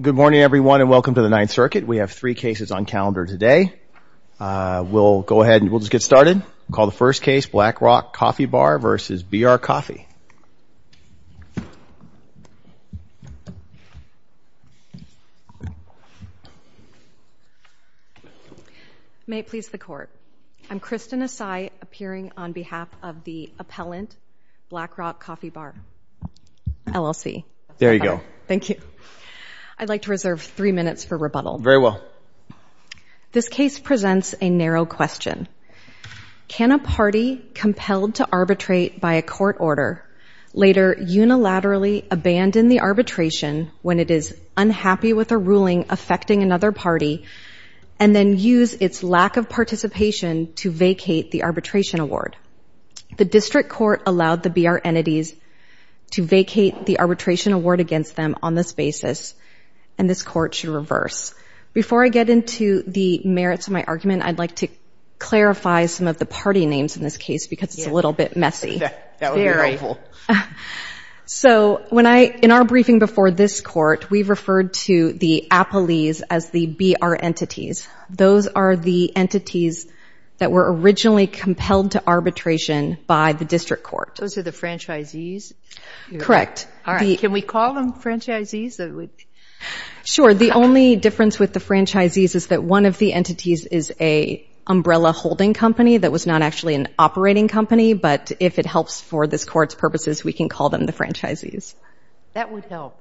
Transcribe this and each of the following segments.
Good morning everyone and welcome to the Ninth Circuit. We have three cases on calendar today. We'll go ahead and we'll just get started. We'll call the first case Black Rock Coffee Bar versus BR Coffee. May it please the court, I'm Kristen Asai appearing on behalf of the I'd like to reserve three minutes for rebuttal. Very well. This case presents a narrow question. Can a party compelled to arbitrate by a court order later unilaterally abandon the arbitration when it is unhappy with a ruling affecting another party and then use its lack of participation to vacate the arbitration award? The district court allowed the BR entities to vacate the arbitration award against them on this basis and this court should reverse. Before I get into the merits of my argument, I'd like to clarify some of the party names in this case because it's a little bit messy. So in our briefing before this court, we referred to the appellees as the BR entities. Those are the entities that were originally compelled to arbitration by the district court. Those are the franchisees? Correct. All right. Can we call them franchisees? Sure. The only difference with the franchisees is that one of the entities is a umbrella holding company that was not actually an operating company, but if it helps for this court's purposes, we can call them the franchisees. That would help.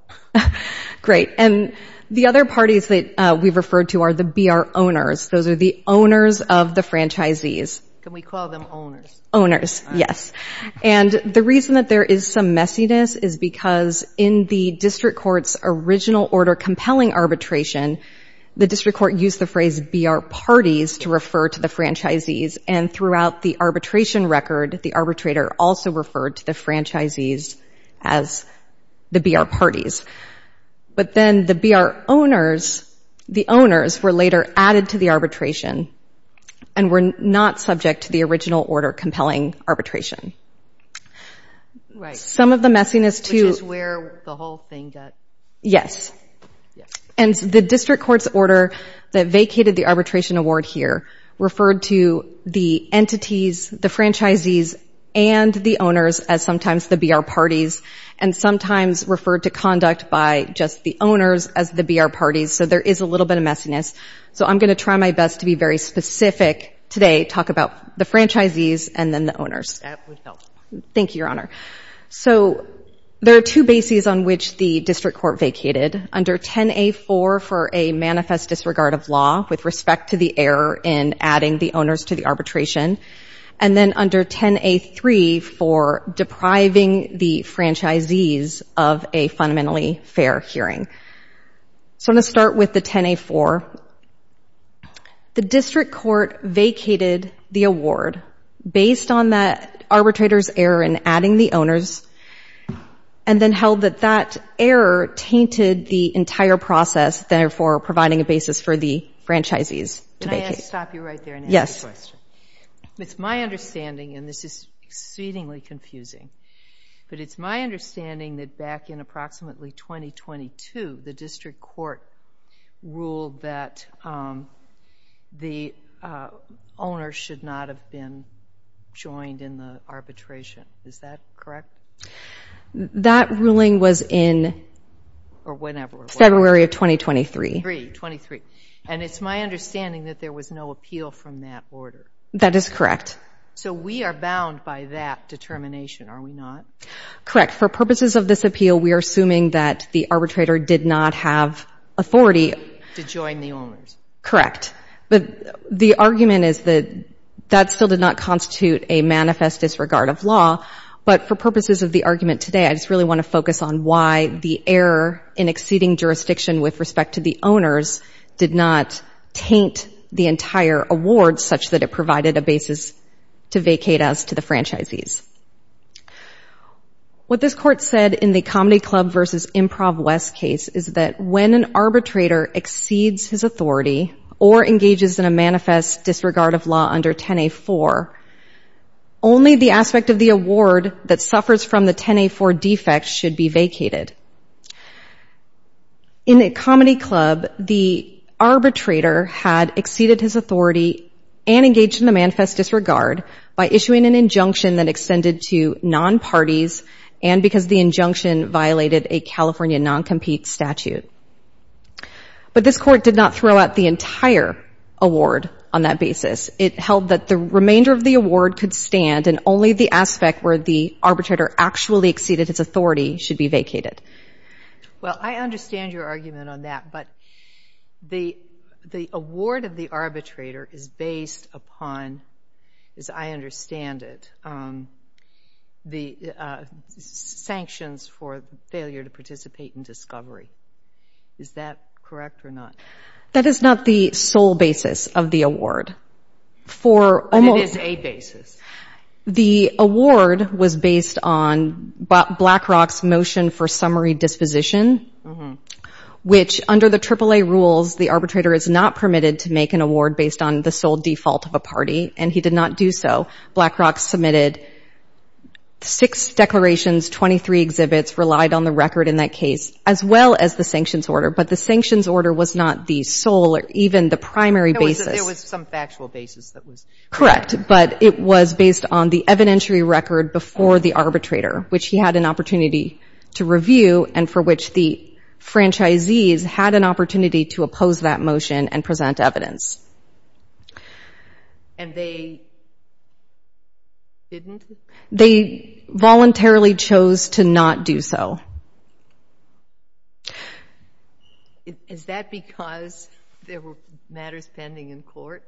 Great. And the other parties that we've referred to are the BR owners. Those are the owners of the franchisees. Can we call them owners? Owners, yes. And the reason that there is some messiness is because in the district court's original order compelling arbitration, the district court used the phrase BR parties to refer to the franchisees and throughout the arbitration record, the arbitrator also referred to the franchisees as the BR parties. But then the BR owners, the owners were later added to the arbitration and were not subject to the original order compelling arbitration. Some of the messiness too... Which is where the whole thing got... Yes. And the district court's order that vacated the arbitration award here referred to the entities, the franchisees and the owners as sometimes the BR parties and sometimes referred to conduct by just the owners as the BR parties. So there is a little bit of messiness. So I'm going to try my best to be very specific today, talk about the franchisees and then the owners. That would help. Thank you, Your Honor. So there are two bases on which the district court vacated. Under 10A4 for a manifest disregard of law with respect to the error in adding the owners to the arbitration. And then under 10A3 for depriving the franchisees of a fundamentally fair hearing. So I'm going to start with the 10A4. The district court vacated the award based on that arbitrator's error in adding the owners and then held that that error tainted the entire process, therefore providing a basis for the franchisees to vacate. Can I stop you right there and ask a question? It's my understanding, and this is exceedingly confusing, but it's my understanding that back in approximately 2022, the district court ruled that the owners should not have been joined in the arbitration. Is that correct? That ruling was in February of 2023. 23. And it's my understanding that there was no appeal from that order. That is correct. So we are bound by that determination, are we not? Correct. For purposes of this appeal, we are assuming that the arbitrator did not have authority. To join the owners. Correct. But the argument is that that still did not constitute a manifest disregard of law. But for purposes of the argument today, I just really want to focus on why the error in exceeding jurisdiction with respect to the owners did not taint the entire award such that it provided a basis to vacate us to the franchisees. What this court said in the Comedy Club versus Improv West case is that when an arbitrator exceeds his authority or engages in a manifest disregard of law under 10A4, only the aspect of the award that suffers from the 10A4 defect should be vacated. In the Comedy Club, the arbitrator had exceeded his authority and engaged in the disregard by issuing an injunction that extended to non-parties and because the injunction violated a California non-compete statute. But this court did not throw out the entire award on that basis. It held that the remainder of the award could stand and only the aspect where the arbitrator actually exceeded its authority should be vacated. Well, I understand your argument on that, but the award of the arbitrator is based upon as I understand it, the sanctions for failure to participate in discovery. Is that correct or not? That is not the sole basis of the award. But it is a basis. The award was based on BlackRock's motion for summary disposition, which under the AAA rules, the arbitrator is not permitted to make an award based on the sole default of a party, and he did not do so. BlackRock submitted six declarations, 23 exhibits relied on the record in that case, as well as the sanctions order. But the sanctions order was not the sole or even the primary basis. It was some factual basis that was... Correct, but it was based on the evidentiary record before the arbitrator, which he had an opportunity to review and for which the franchisees had an opportunity to oppose that motion and present evidence. And they didn't? They voluntarily chose to not do so. Is that because there were matters pending in court?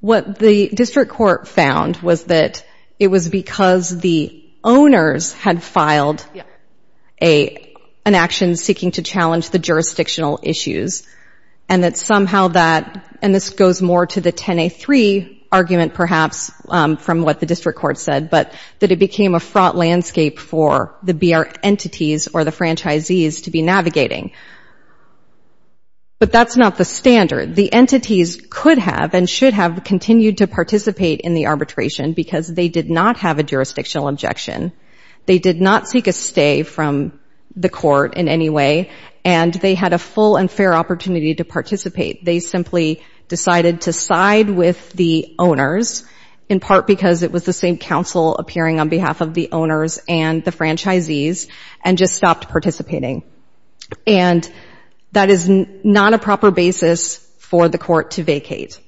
What the district court found was that it was because the owners had filed an action seeking to challenge the jurisdictional issues, and that somehow that, and this goes more to the 10A3 argument perhaps from what the district court said, but that it became a fraught landscape for the BR entities or the franchisees to be navigating. But that's not the standard. The entities could have and should have continued to participate in the arbitration because they did not have a jurisdictional objection. They did not seek a stay from the court in any way, and they had a full and fair opportunity to participate. They simply decided to side with the owners in part because it was the same council appearing on behalf of the owners and the franchisees and just stopped participating. And that is not a proper basis for the court to vacate.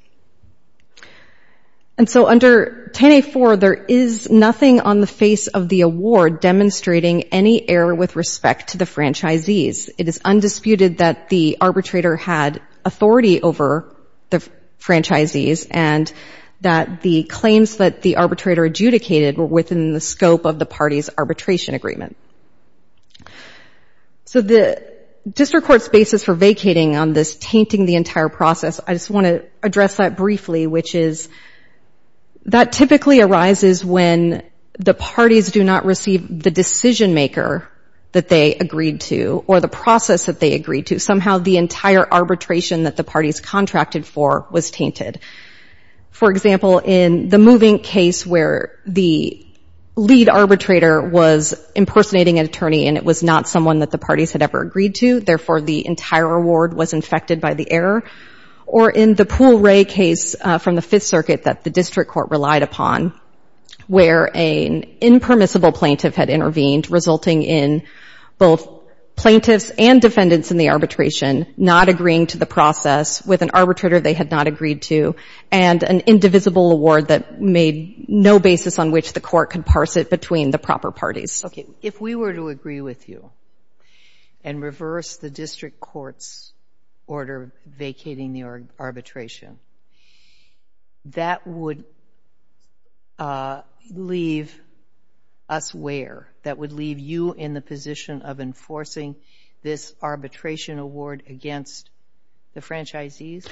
And so under 10A4, there is nothing on the face of the award demonstrating any error with respect to the franchisees. It is undisputed that the arbitrator had authority over the franchisees and that the claims that the arbitrator adjudicated were within the scope of the party's arbitration agreement. So the district court's basis for vacating on this tainting the entire process, I just want to address that briefly, which is that typically arises when the parties do not receive the decision maker that they agreed to or the process that they agreed to. Somehow the entire arbitration that the parties contracted for was tainted. For example, in the moving case where the lead arbitrator was impersonating an attorney and it was not someone that the parties had ever agreed to, therefore the entire award was infected by the error. Or in the Pool Ray case from the Fifth Circuit that the district court relied upon where an impermissible plaintiff had intervened, resulting in both plaintiffs and defendants in the arbitration not agreeing to the process with an arbitrator they had not agreed to and an indivisible award that made no basis on which the court could parse it between the proper parties. Okay, if we were to agree with you and reverse the district court's order vacating the arbitration, that would leave us where? That would leave you in the position of enforcing this arbitration award against the franchisees?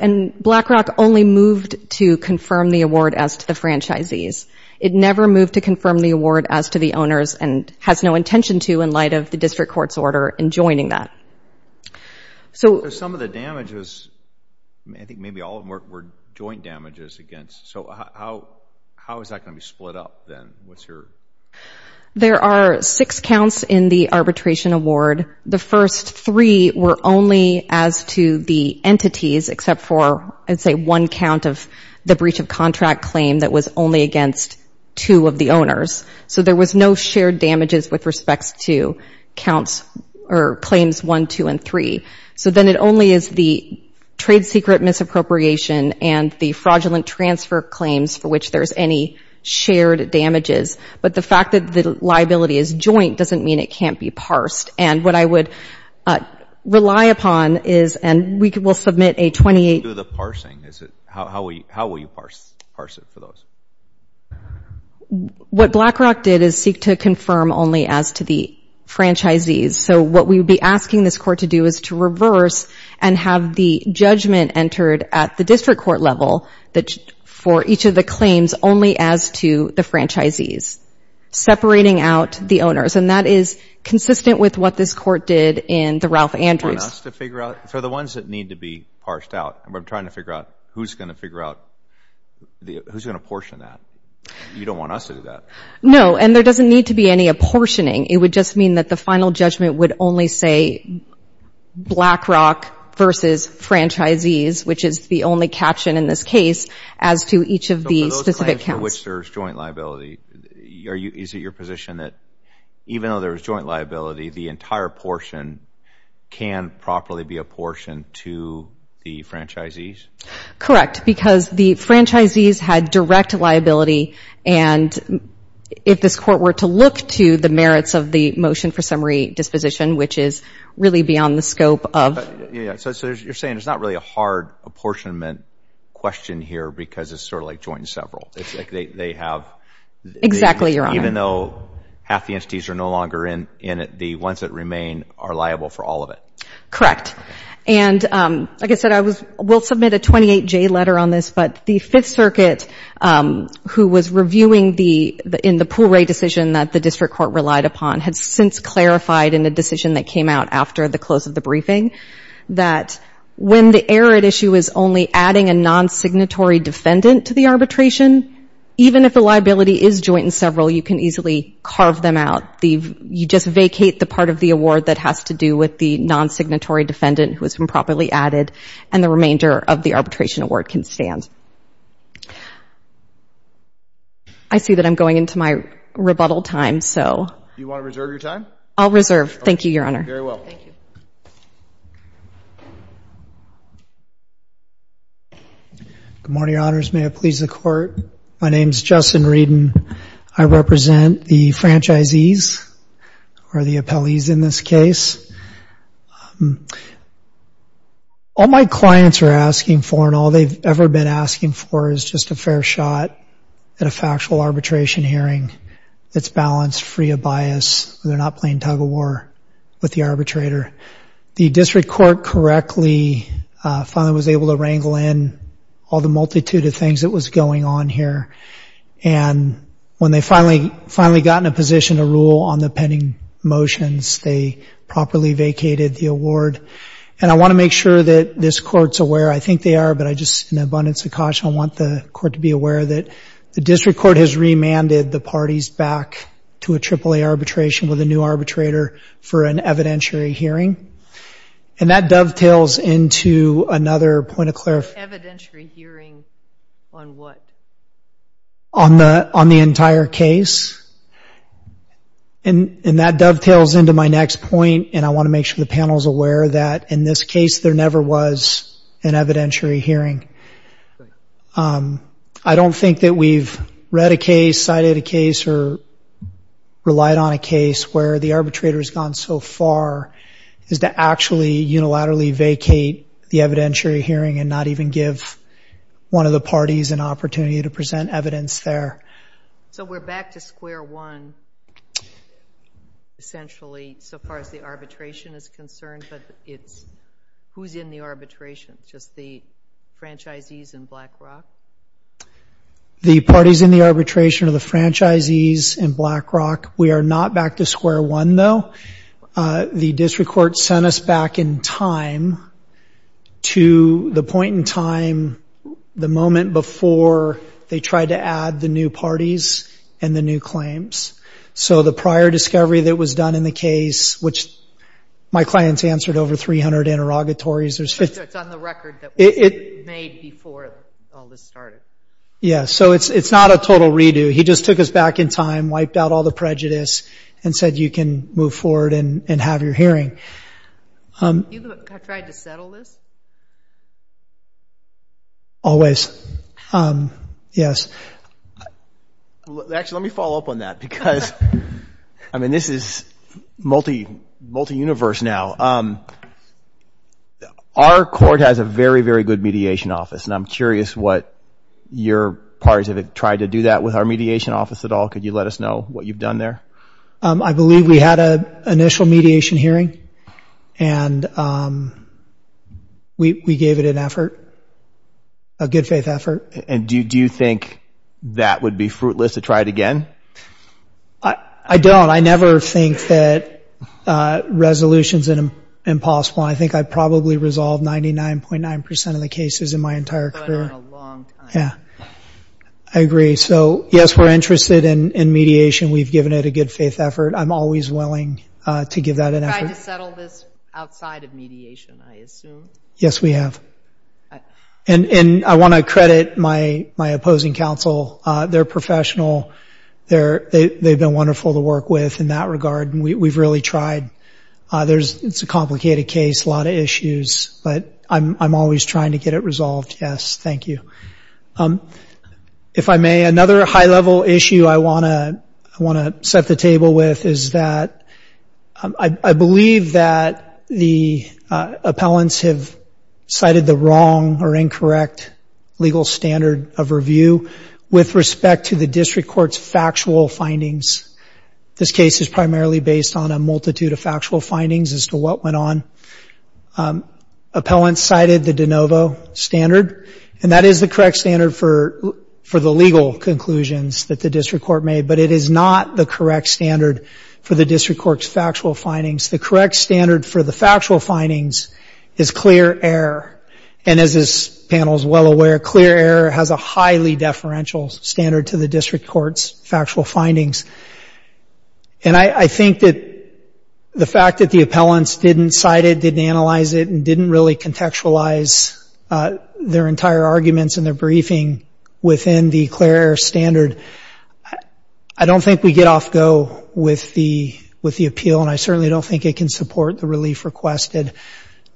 And BlackRock only moved to confirm the award as to the franchisees. It never moved to confirm the award as to the owners and has no intention to in light of the district court's order in joining that. Some of the damages, I think maybe all of them were joint damages against. So how is that going to be split up then? There are six counts in the arbitration award. The first three were only as to the entities except for, I'd say, one count of the breach of contract claim that was only against two of the owners. So there was no shared damages with respects to claims one, two, and three. So then it only is the trade secret misappropriation and the fraudulent transfer claims for which there's any shared damages. But the fact that the liability is joint doesn't mean it can't be parsed. And what I would rely upon is, and we will submit a 28- How do you do the parsing? How will you parse it for those? What BlackRock did is seek to confirm only as to the franchisees. So what we would be asking this court to do is to reverse and have the judgment entered at the district court level for each of the claims only as to the franchisees, separating out the owners. And that is consistent with what this court did in the Ralph Andrews. You want us to figure out? For the ones that need to be parsed out, and we're trying to figure out who's going to portion that. You don't want us to do that. No, and there doesn't need to be any apportioning. It would just mean that the final judgment would only say BlackRock versus franchisees, which is the only caption in this case as to each of the specific counts. So for those claims for which there's joint liability, is it your position that even though there was joint liability, the entire portion can properly be apportioned to the franchisees? Correct, because the franchisees had direct liability. And if this court were to look to the merits of the motion for summary disposition, which is really beyond the scope of... But yeah, so you're saying it's not really a hard apportionment question here because it's sort of like joint and several. It's like they have... Exactly, Your Honor. Even though half the entities are no longer in it, the ones that remain are liable for all of it. Correct. And like I said, I was... We'll submit a 28-J letter on this, but the Fifth Circuit, who was reviewing the... in the pool rate decision that the district court relied upon, had since clarified in a decision that came out after the close of the briefing that when the error at issue is only adding a non-signatory defendant to the arbitration, even if the liability is joint and several, you can easily carve them out. You just vacate the part of the award that has to do with the non-signatory defendant who has been properly added, and the remainder of the arbitration award can stand. I see that I'm going into my rebuttal time, so... You want to reserve your time? I'll reserve. Thank you, Your Honor. Very well. Thank you. Good morning, Your Honors. May it please the Court. My name is Justin Reden. I represent the franchisees, or the appellees in this case. All my clients are asking for, and all they've ever been asking for, is just a fair shot at a factual arbitration hearing that's balanced, free of bias, where they're not playing tug-of-war with the arbitrator. The District Court correctly, finally was able to wrangle in all the multitude of things that was going on here. And when they finally got in a position to rule on the pending motions, they properly vacated the award. And I want to make sure that this Court's aware, I think they are, but I just, in abundance of caution, I want the Court to be aware that the District Court has remanded the parties back to a AAA arbitration with a new arbitrator for an evidentiary hearing. And that dovetails into another point of clarification. Evidentiary hearing on what? On the entire case. And that dovetails into my next point, and I want to make sure the panel's aware that, in this case, there never was an evidentiary hearing. I don't think that we've read a case, cited a case, or relied on a case where the arbitrator has gone so far as to actually unilaterally vacate the evidentiary hearing and not even give one of the parties an opportunity to present evidence there. So we're back to square one, essentially, so far as the arbitration is concerned, but it's who's in the arbitration? Just the franchisees in BlackRock? The parties in the arbitration are the franchisees in BlackRock. We are not back to square one, though. The District Court sent us back in time to the point in time, the moment before, they tried to add the new parties and the new claims. So the prior discovery that was done in the case, which my clients answered over 300 interrogatories. It's on the record that was made before all this started. Yeah, so it's not a total redo. He just took us back in time, wiped out all the prejudice, and said, you can move forward and have your hearing. You've tried to settle this? Always, yes. Actually, let me follow up on that, because, I mean, this is multi-universe now. Our court has a very, very good mediation office, and I'm curious what your parties have tried to do that with our mediation office at all. Could you let us know what you've done there? I believe we had an initial mediation hearing, and we gave it an effort, a good faith effort. And do you think that would be fruitless to try it again? I don't. I never think that resolution's impossible. I think I probably resolved 99.9% of the cases in my entire career. Yeah, I agree. So, yes, we're interested in mediation. We've given it a good faith effort. I'm always willing to give that an effort. You've tried to settle this outside of mediation, I assume? Yes, we have. And I want to credit my opposing counsel. They're professional. They've been wonderful to work with in that regard, and we've really tried. There's a complicated case, a lot of issues, but I'm always trying to get it resolved. Yes, thank you. If I may, another high-level issue I want to set the table with is that I believe that the appellants have cited the wrong or incorrect legal standard of review with respect to the district court's factual findings. This case is primarily based on a multitude of factual findings as to what went on. Appellants cited the de novo standard, and that is the correct standard for the legal conclusions that the district court made, but it is not the correct standard for the district court's factual findings. The correct standard for the factual findings is clear error. And as this panel is well aware, clear error has a highly deferential standard to the district court's factual findings. And I think that the fact that the appellants didn't cite it, didn't analyze it, and didn't really contextualize their entire arguments in their briefing within the clear error standard, I don't think we get off go with the appeal, and I certainly don't think it can support the relief requested.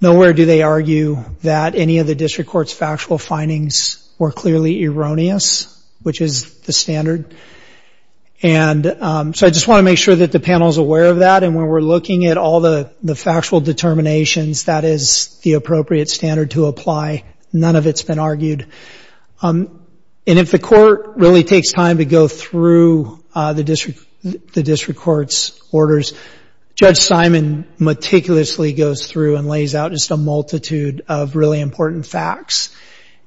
Nowhere do they argue that any of the district court's factual findings were clearly erroneous, which is the standard. And so I just want to make sure that the panel's aware of that, and when we're looking at all the factual determinations, that is the appropriate standard to apply. None of it's been argued. And if the court really takes time to go through the district court's orders, Judge Simon meticulously goes through and lays out just a multitude of really important facts.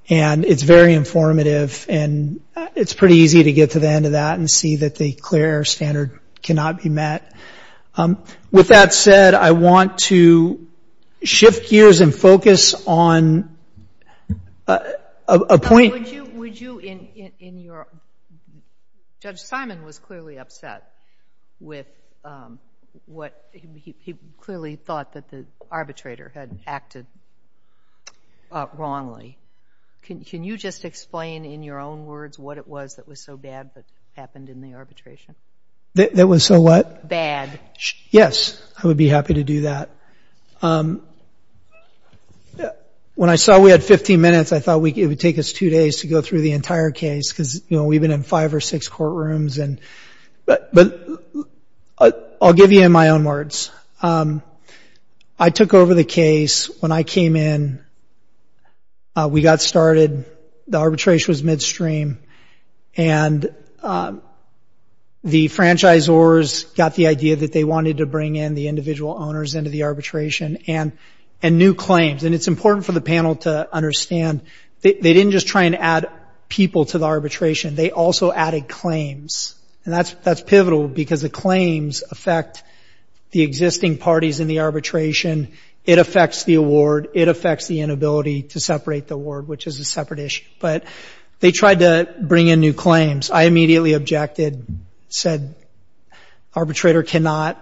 And it's very informative, and it's pretty easy to get to the end of that and see that the clear error standard cannot be met. With that said, I want to shift gears and focus on a point... But would you, in your... Judge Simon was clearly upset with what... He clearly thought that the arbitrator had acted wrongly. Can you just explain in your own words what it was that was so bad that happened in the arbitration? That was so what? Yes, I would be happy to do that. When I saw we had 15 minutes, I thought it would take us two days to go through the entire case because we've been in five or six courtrooms. But I'll give you in my own words. I took over the case when I came in and we got started. The arbitration was midstream, and the franchisors got the idea that they wanted to bring in the individual owners into the arbitration and new claims. And it's important for the panel to understand they didn't just try and add people to the arbitration, they also added claims. And that's pivotal because the claims affect the existing parties in the arbitration. It affects the award. It affects the inability to separate the award, which is a separate issue. But they tried to bring in new claims. I immediately objected, said arbitrator cannot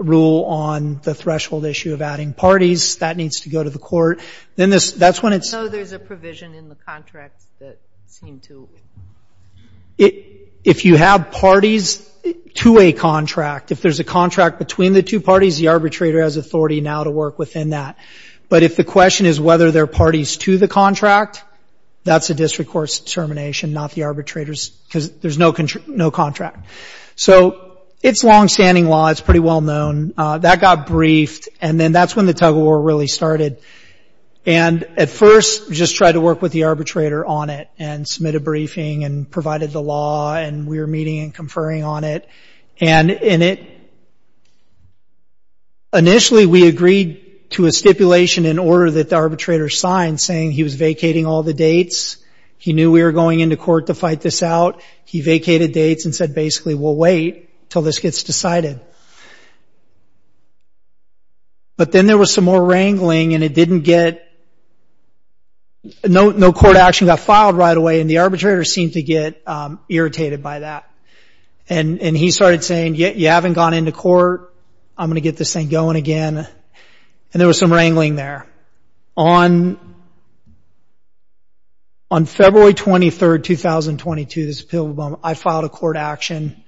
rule on the threshold issue of adding parties. That needs to go to the court. Then that's when it's- So there's a provision in the contract that seemed to- If you have parties to a contract, if there's a contract between the two parties, the arbitrator has authority now to work within that. But if the question is whether there are parties to the contract, that's a district court's determination, not the arbitrator's, because there's no contract. So it's longstanding law. It's pretty well known. That got briefed. And then that's when the tug of war really started. And at first, just tried to work with the arbitrator on it and submit a briefing and provided the law. And we were meeting and conferring on it. And initially, we agreed to a stipulation in order that the arbitrator signed saying he was vacating all the dates. He knew we were going into court to fight this out. He vacated dates and said basically, we'll wait until this gets decided. But then there was some more wrangling and it didn't get- No court action got filed right away. And the arbitrator seemed to get irritated by that. And he started saying, you haven't gone into court. I'm going to get this thing going again. And there was some wrangling there. On February 23rd, 2022, I filed a court action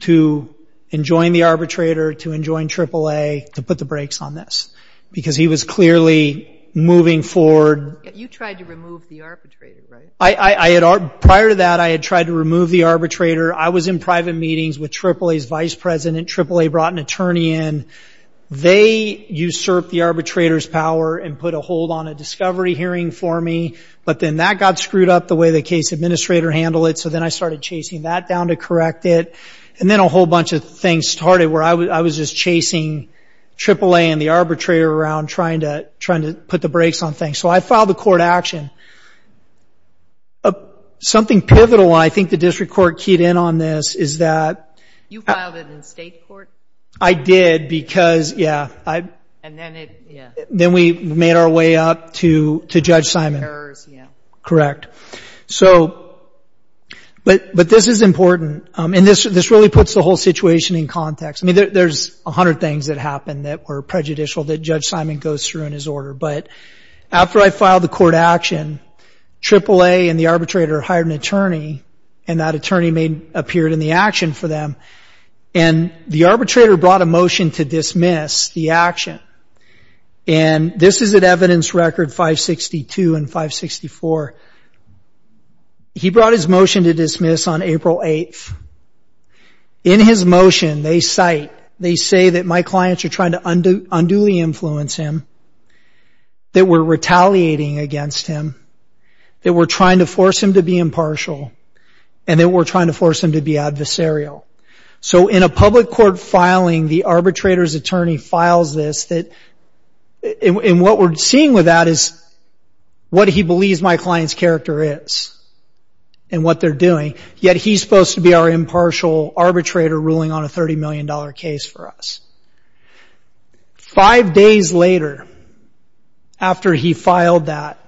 to enjoin the arbitrator, to enjoin AAA, to put the brakes on this, because he was clearly moving forward. You tried to remove the arbitrator, right? Prior to that, I had tried to remove the arbitrator. I was in private meetings with AAA's vice president. AAA brought an attorney in. They usurped the arbitrator's power and put a hold on a discovery hearing for me. But then that got screwed up the way the case administrator handled it. So then I started chasing that down to correct it. And then a whole bunch of things started where I was just chasing AAA and the arbitrator around trying to put the brakes on things. So I filed a court action. Something pivotal, and I think the district court keyed in on this, is that... You filed it in state court? I did, because, yeah, I... And then it, yeah... Then we made our way up to Judge Simon. ...errors, yeah. Correct. So, but this is important. And this really puts the whole situation in context. I mean, there's a hundred things that happened that were prejudicial that Judge Simon goes through in his order. But after I filed the court action, AAA and the arbitrator hired an attorney, and that attorney appeared in the action for them. And the arbitrator brought a motion to dismiss the action. And this is at evidence record 562 and 564. He brought his motion to dismiss on April 8th. In his motion, they cite... They say that my clients are trying to unduly influence him, that we're retaliating against him. That we're trying to force him to be impartial. And that we're trying to force him to be adversarial. So in a public court filing, the arbitrator's attorney files this that... And what we're seeing with that is what he believes my client's character is. And what they're doing. Yet he's supposed to be our impartial arbitrator ruling on a $30 million case for us. Five days later, after he filed that,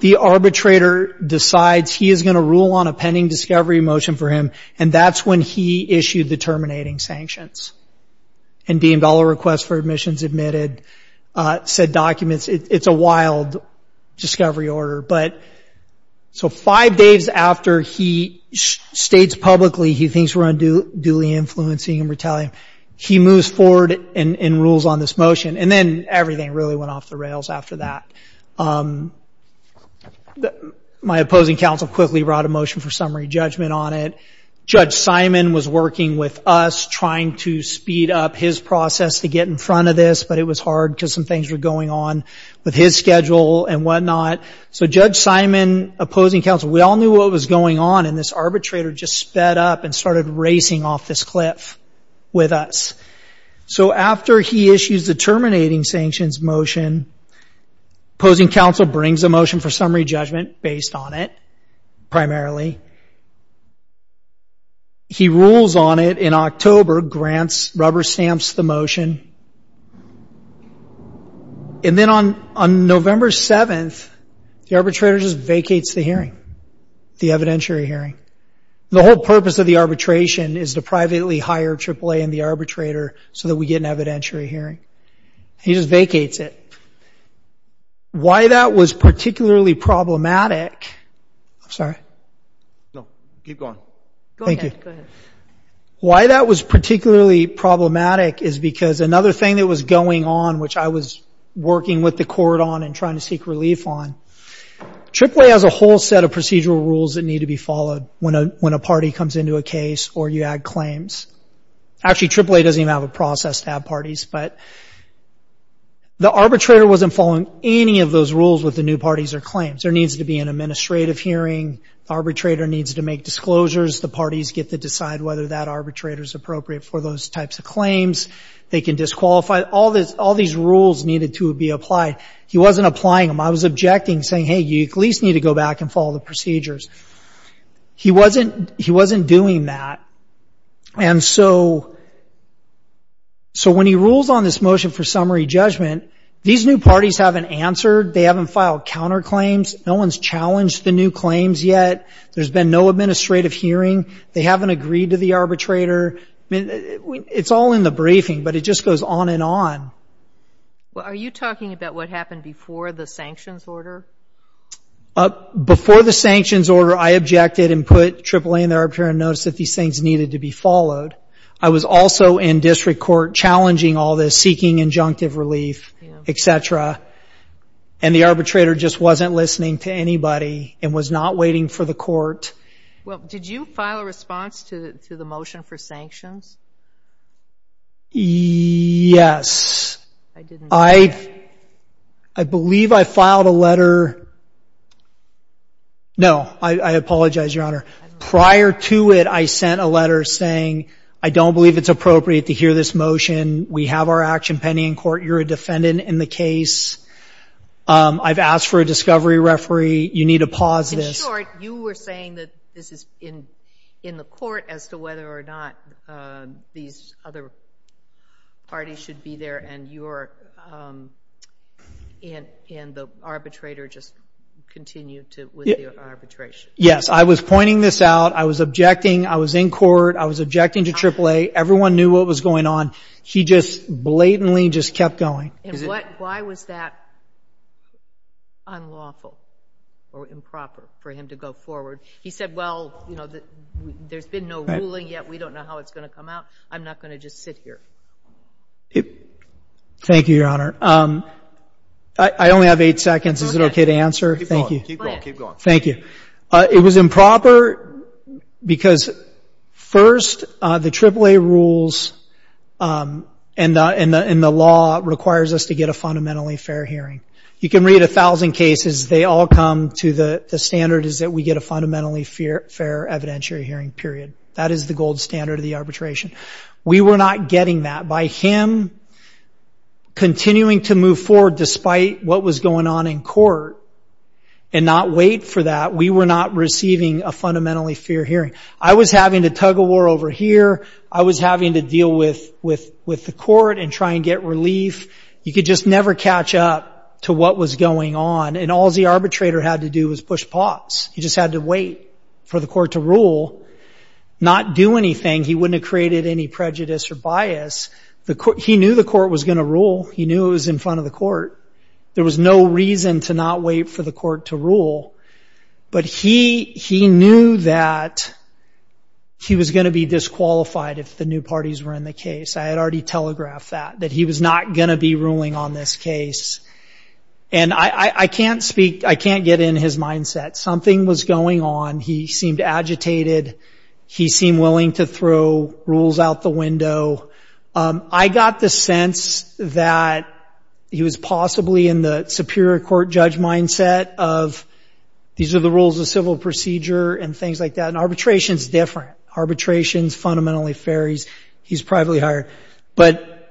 the arbitrator decides he is going to rule on a pending discovery motion for him. And that's when he issued the terminating sanctions. And deemed all requests for admissions admitted. Said documents. It's a wild discovery order. But so five days after he states publicly he thinks we're unduly influencing and retaliating, he moves forward and rules on this motion. And then everything really went off the rails after that. The... My opposing counsel quickly brought a motion for summary judgment on it. Judge Simon was working with us trying to speed up his process to get in front of this. But it was hard because some things were going on with his schedule and whatnot. So Judge Simon, opposing counsel, we all knew what was going on. And this arbitrator just sped up and started racing off this cliff with us. So after he issues the terminating sanctions motion, opposing counsel brings a motion for summary judgment based on it primarily. He rules on it in October, grants, rubber stamps the motion. And then on November 7th, the arbitrator just vacates the hearing. The evidentiary hearing. The whole purpose of the arbitration is to privately hire AAA and the arbitrator so that we get an evidentiary hearing. He just vacates it. Why that was particularly problematic... I'm sorry. No, keep going. Thank you. Why that was particularly problematic is because another thing that was going on, which I was working with the court on and trying to seek relief on, AAA has a whole set of procedural rules that need to be followed when a party comes into a case or you add claims. Actually, AAA doesn't even have a process to have parties. But the arbitrator wasn't following any of those rules with the new parties or claims. There needs to be an administrative hearing. The arbitrator needs to make disclosures. The parties get to decide whether that arbitrator is appropriate for those types of claims. They can disqualify. All these rules needed to be applied. He wasn't applying them. I was objecting, saying, hey, you at least need to go back and follow the procedures. He wasn't doing that. And so when he rules on this motion for summary judgment, these new parties haven't answered. They haven't filed counterclaims. No one's challenged the new claims yet. There's been no administrative hearing. They haven't agreed to the arbitrator. It's all in the briefing, but it just goes on and on. Well, are you talking about what happened before the sanctions order? Before the sanctions order, I objected and put AAA in the arbitration notice that these things needed to be followed. I was also in district court challenging all this, seeking injunctive relief, et cetera. And the arbitrator just wasn't listening to anybody and was not waiting for the court. Well, did you file a response to the motion for sanctions? Yes. I believe I filed a letter. No, I apologize, Your Honor. Prior to it, I sent a letter saying, I don't believe it's appropriate to hear this motion. We have our action pending in court. You're a defendant in the case. I've asked for a discovery referee. You need to pause this. In short, you were saying that this is in the court as to whether or not these other parties should be there and the arbitrator just continued with the arbitration. Yes, I was pointing this out. I was objecting. I was in court. I was objecting to AAA. Everyone knew what was going on. He just blatantly just kept going. And why was that unlawful or improper for him to go forward? He said, well, there's been no ruling yet. We don't know how it's going to come out. I'm not going to just sit here. Thank you, Your Honor. I only have eight seconds. Is it okay to answer? Thank you. Thank you. It was improper because, first, the AAA rules and the law requires us to get a fundamentally fair hearing. You can read 1,000 cases. They all come to the standard is that we get a fundamentally fair evidentiary hearing, period. That is the gold standard of the arbitration. We were not getting that. By him continuing to move forward despite what was going on in court and not wait for that, we were not receiving a fundamentally fair hearing. I was having to tug a war over here. I was having to deal with the court and try and get relief. You could just never catch up to what was going on. And all the arbitrator had to do was push pause. He just had to wait for the court to rule, not do anything. He wouldn't have created any prejudice or bias. He knew the court was going to rule. He knew it was in front of the court. There was no reason to not wait for the court to rule. But he knew that he was going to be disqualified if the new parties were in the case. I had already telegraphed that, that he was not going to be ruling on this case. And I can't speak, I can't get in his mindset. Something was going on. He seemed agitated. He seemed willing to throw rules out the window. I got the sense that he was possibly in the superior court judge mindset of these are the rules of civil procedure and things like that. And arbitration is different. Arbitration is fundamentally fair. He's privately hired. But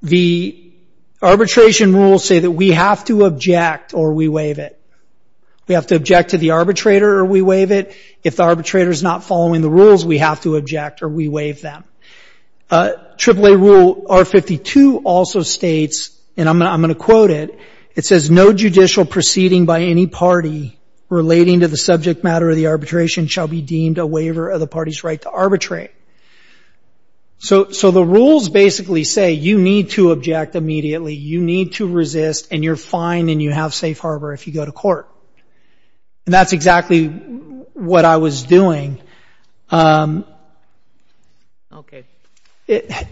the arbitration rules say that we have to object or we waive it. We have to object to the arbitrator or we waive it. If the arbitrator is not following the rules, we have to object or we waive them. AAA Rule R52 also states, and I'm going to quote it. It says, no judicial proceeding by any party relating to the subject matter of the arbitration shall be deemed a waiver of the party's right to arbitrate. So the rules basically say you need to object immediately. You need to resist. And you're fine and you have safe harbor if you go to court. And that's exactly what I was doing. Okay. Do you have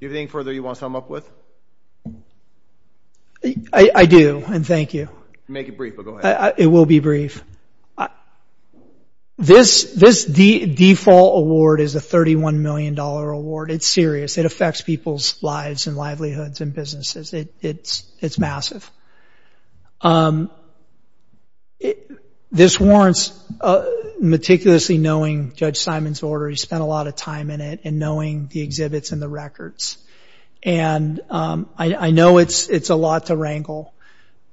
anything further you want to sum up with? I do. And thank you. Make it brief, but go ahead. It will be brief. This default award is a $31 million award. It's serious. It affects people's lives and livelihoods and businesses. It's massive. This warrants meticulously knowing Judge Simon's order. He spent a lot of time in it and knowing the exhibits and the records. And I know it's a lot to wrangle,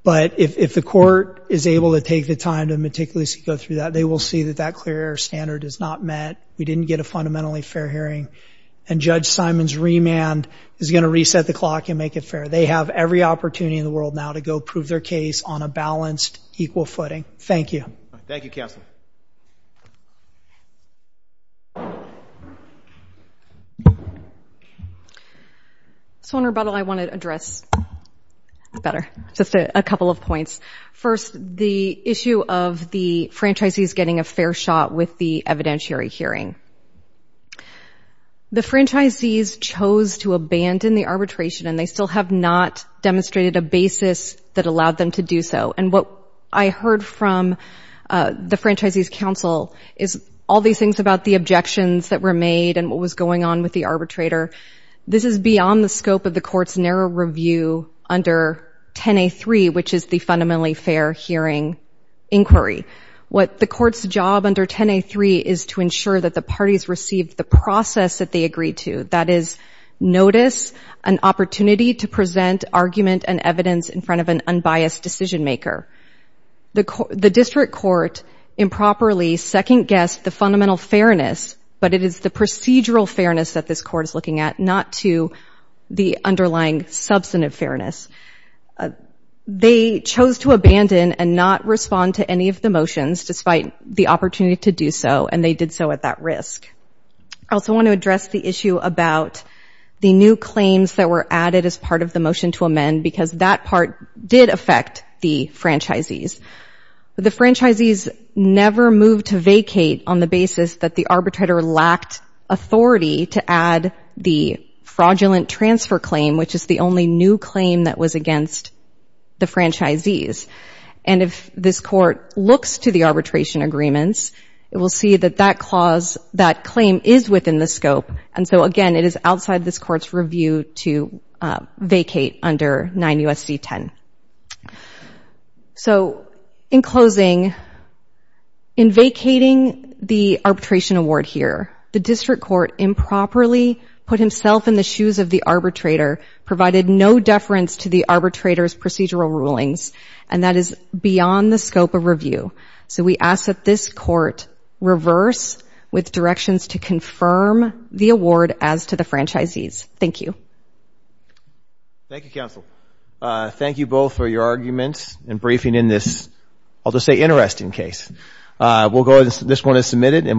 but if the court is able to take the time to meticulously go through that, they will see that that clear air standard is not met. We didn't get a fundamentally fair hearing. And Judge Simon's remand is going to reset the clock and make it fair. They have every opportunity in the world now to go prove their case on a balanced, equal footing. Thank you. Thank you, Counselor. So on rebuttal, I want to address, better, just a couple of points. First, the issue of the franchisees getting a fair shot with the evidentiary hearing. The franchisees chose to abandon the arbitration, and they still have not demonstrated a basis that allowed them to do so. And what I heard from the franchisees' counsel is all these things about the objections that were made and what was going on with the arbitrator. This is beyond the scope of the court's narrow review under 10A3, which is the fundamentally fair hearing inquiry. What the court's job under 10A3 is to ensure that the parties receive the process that they agreed to. That is, notice an opportunity to present argument and evidence in front of an unbiased decision maker. The district court improperly second-guessed the fundamental fairness, but it is the procedural fairness that this court is looking at, not to the underlying substantive fairness. They chose to abandon and not respond to any of the motions, despite the opportunity to do so, and they did so at that risk. I also want to address the issue about the new claims that were added as part of the motion to amend, because that part did affect the franchisees. The franchisees never moved to vacate on the basis that the arbitrator lacked authority to add the fraudulent transfer claim, which is the only new claim that was against the franchisees. And if this court looks to the arbitration agreements, it will see that that claim is within the scope. And so again, it is outside this court's review to vacate under 9 U.S.C. 10. So in closing, in vacating the arbitration award here, the district court improperly put himself in the shoes of the arbitrator, provided no deference to the arbitrator's procedural rulings, and that is beyond the scope of review. So we ask that this court reverse with directions to confirm the award as to the franchisees. Thank you. Thank you, counsel. Thank you both for your arguments and briefing in this, I'll just say, interesting case. We'll go ahead. This one is submitted and we'll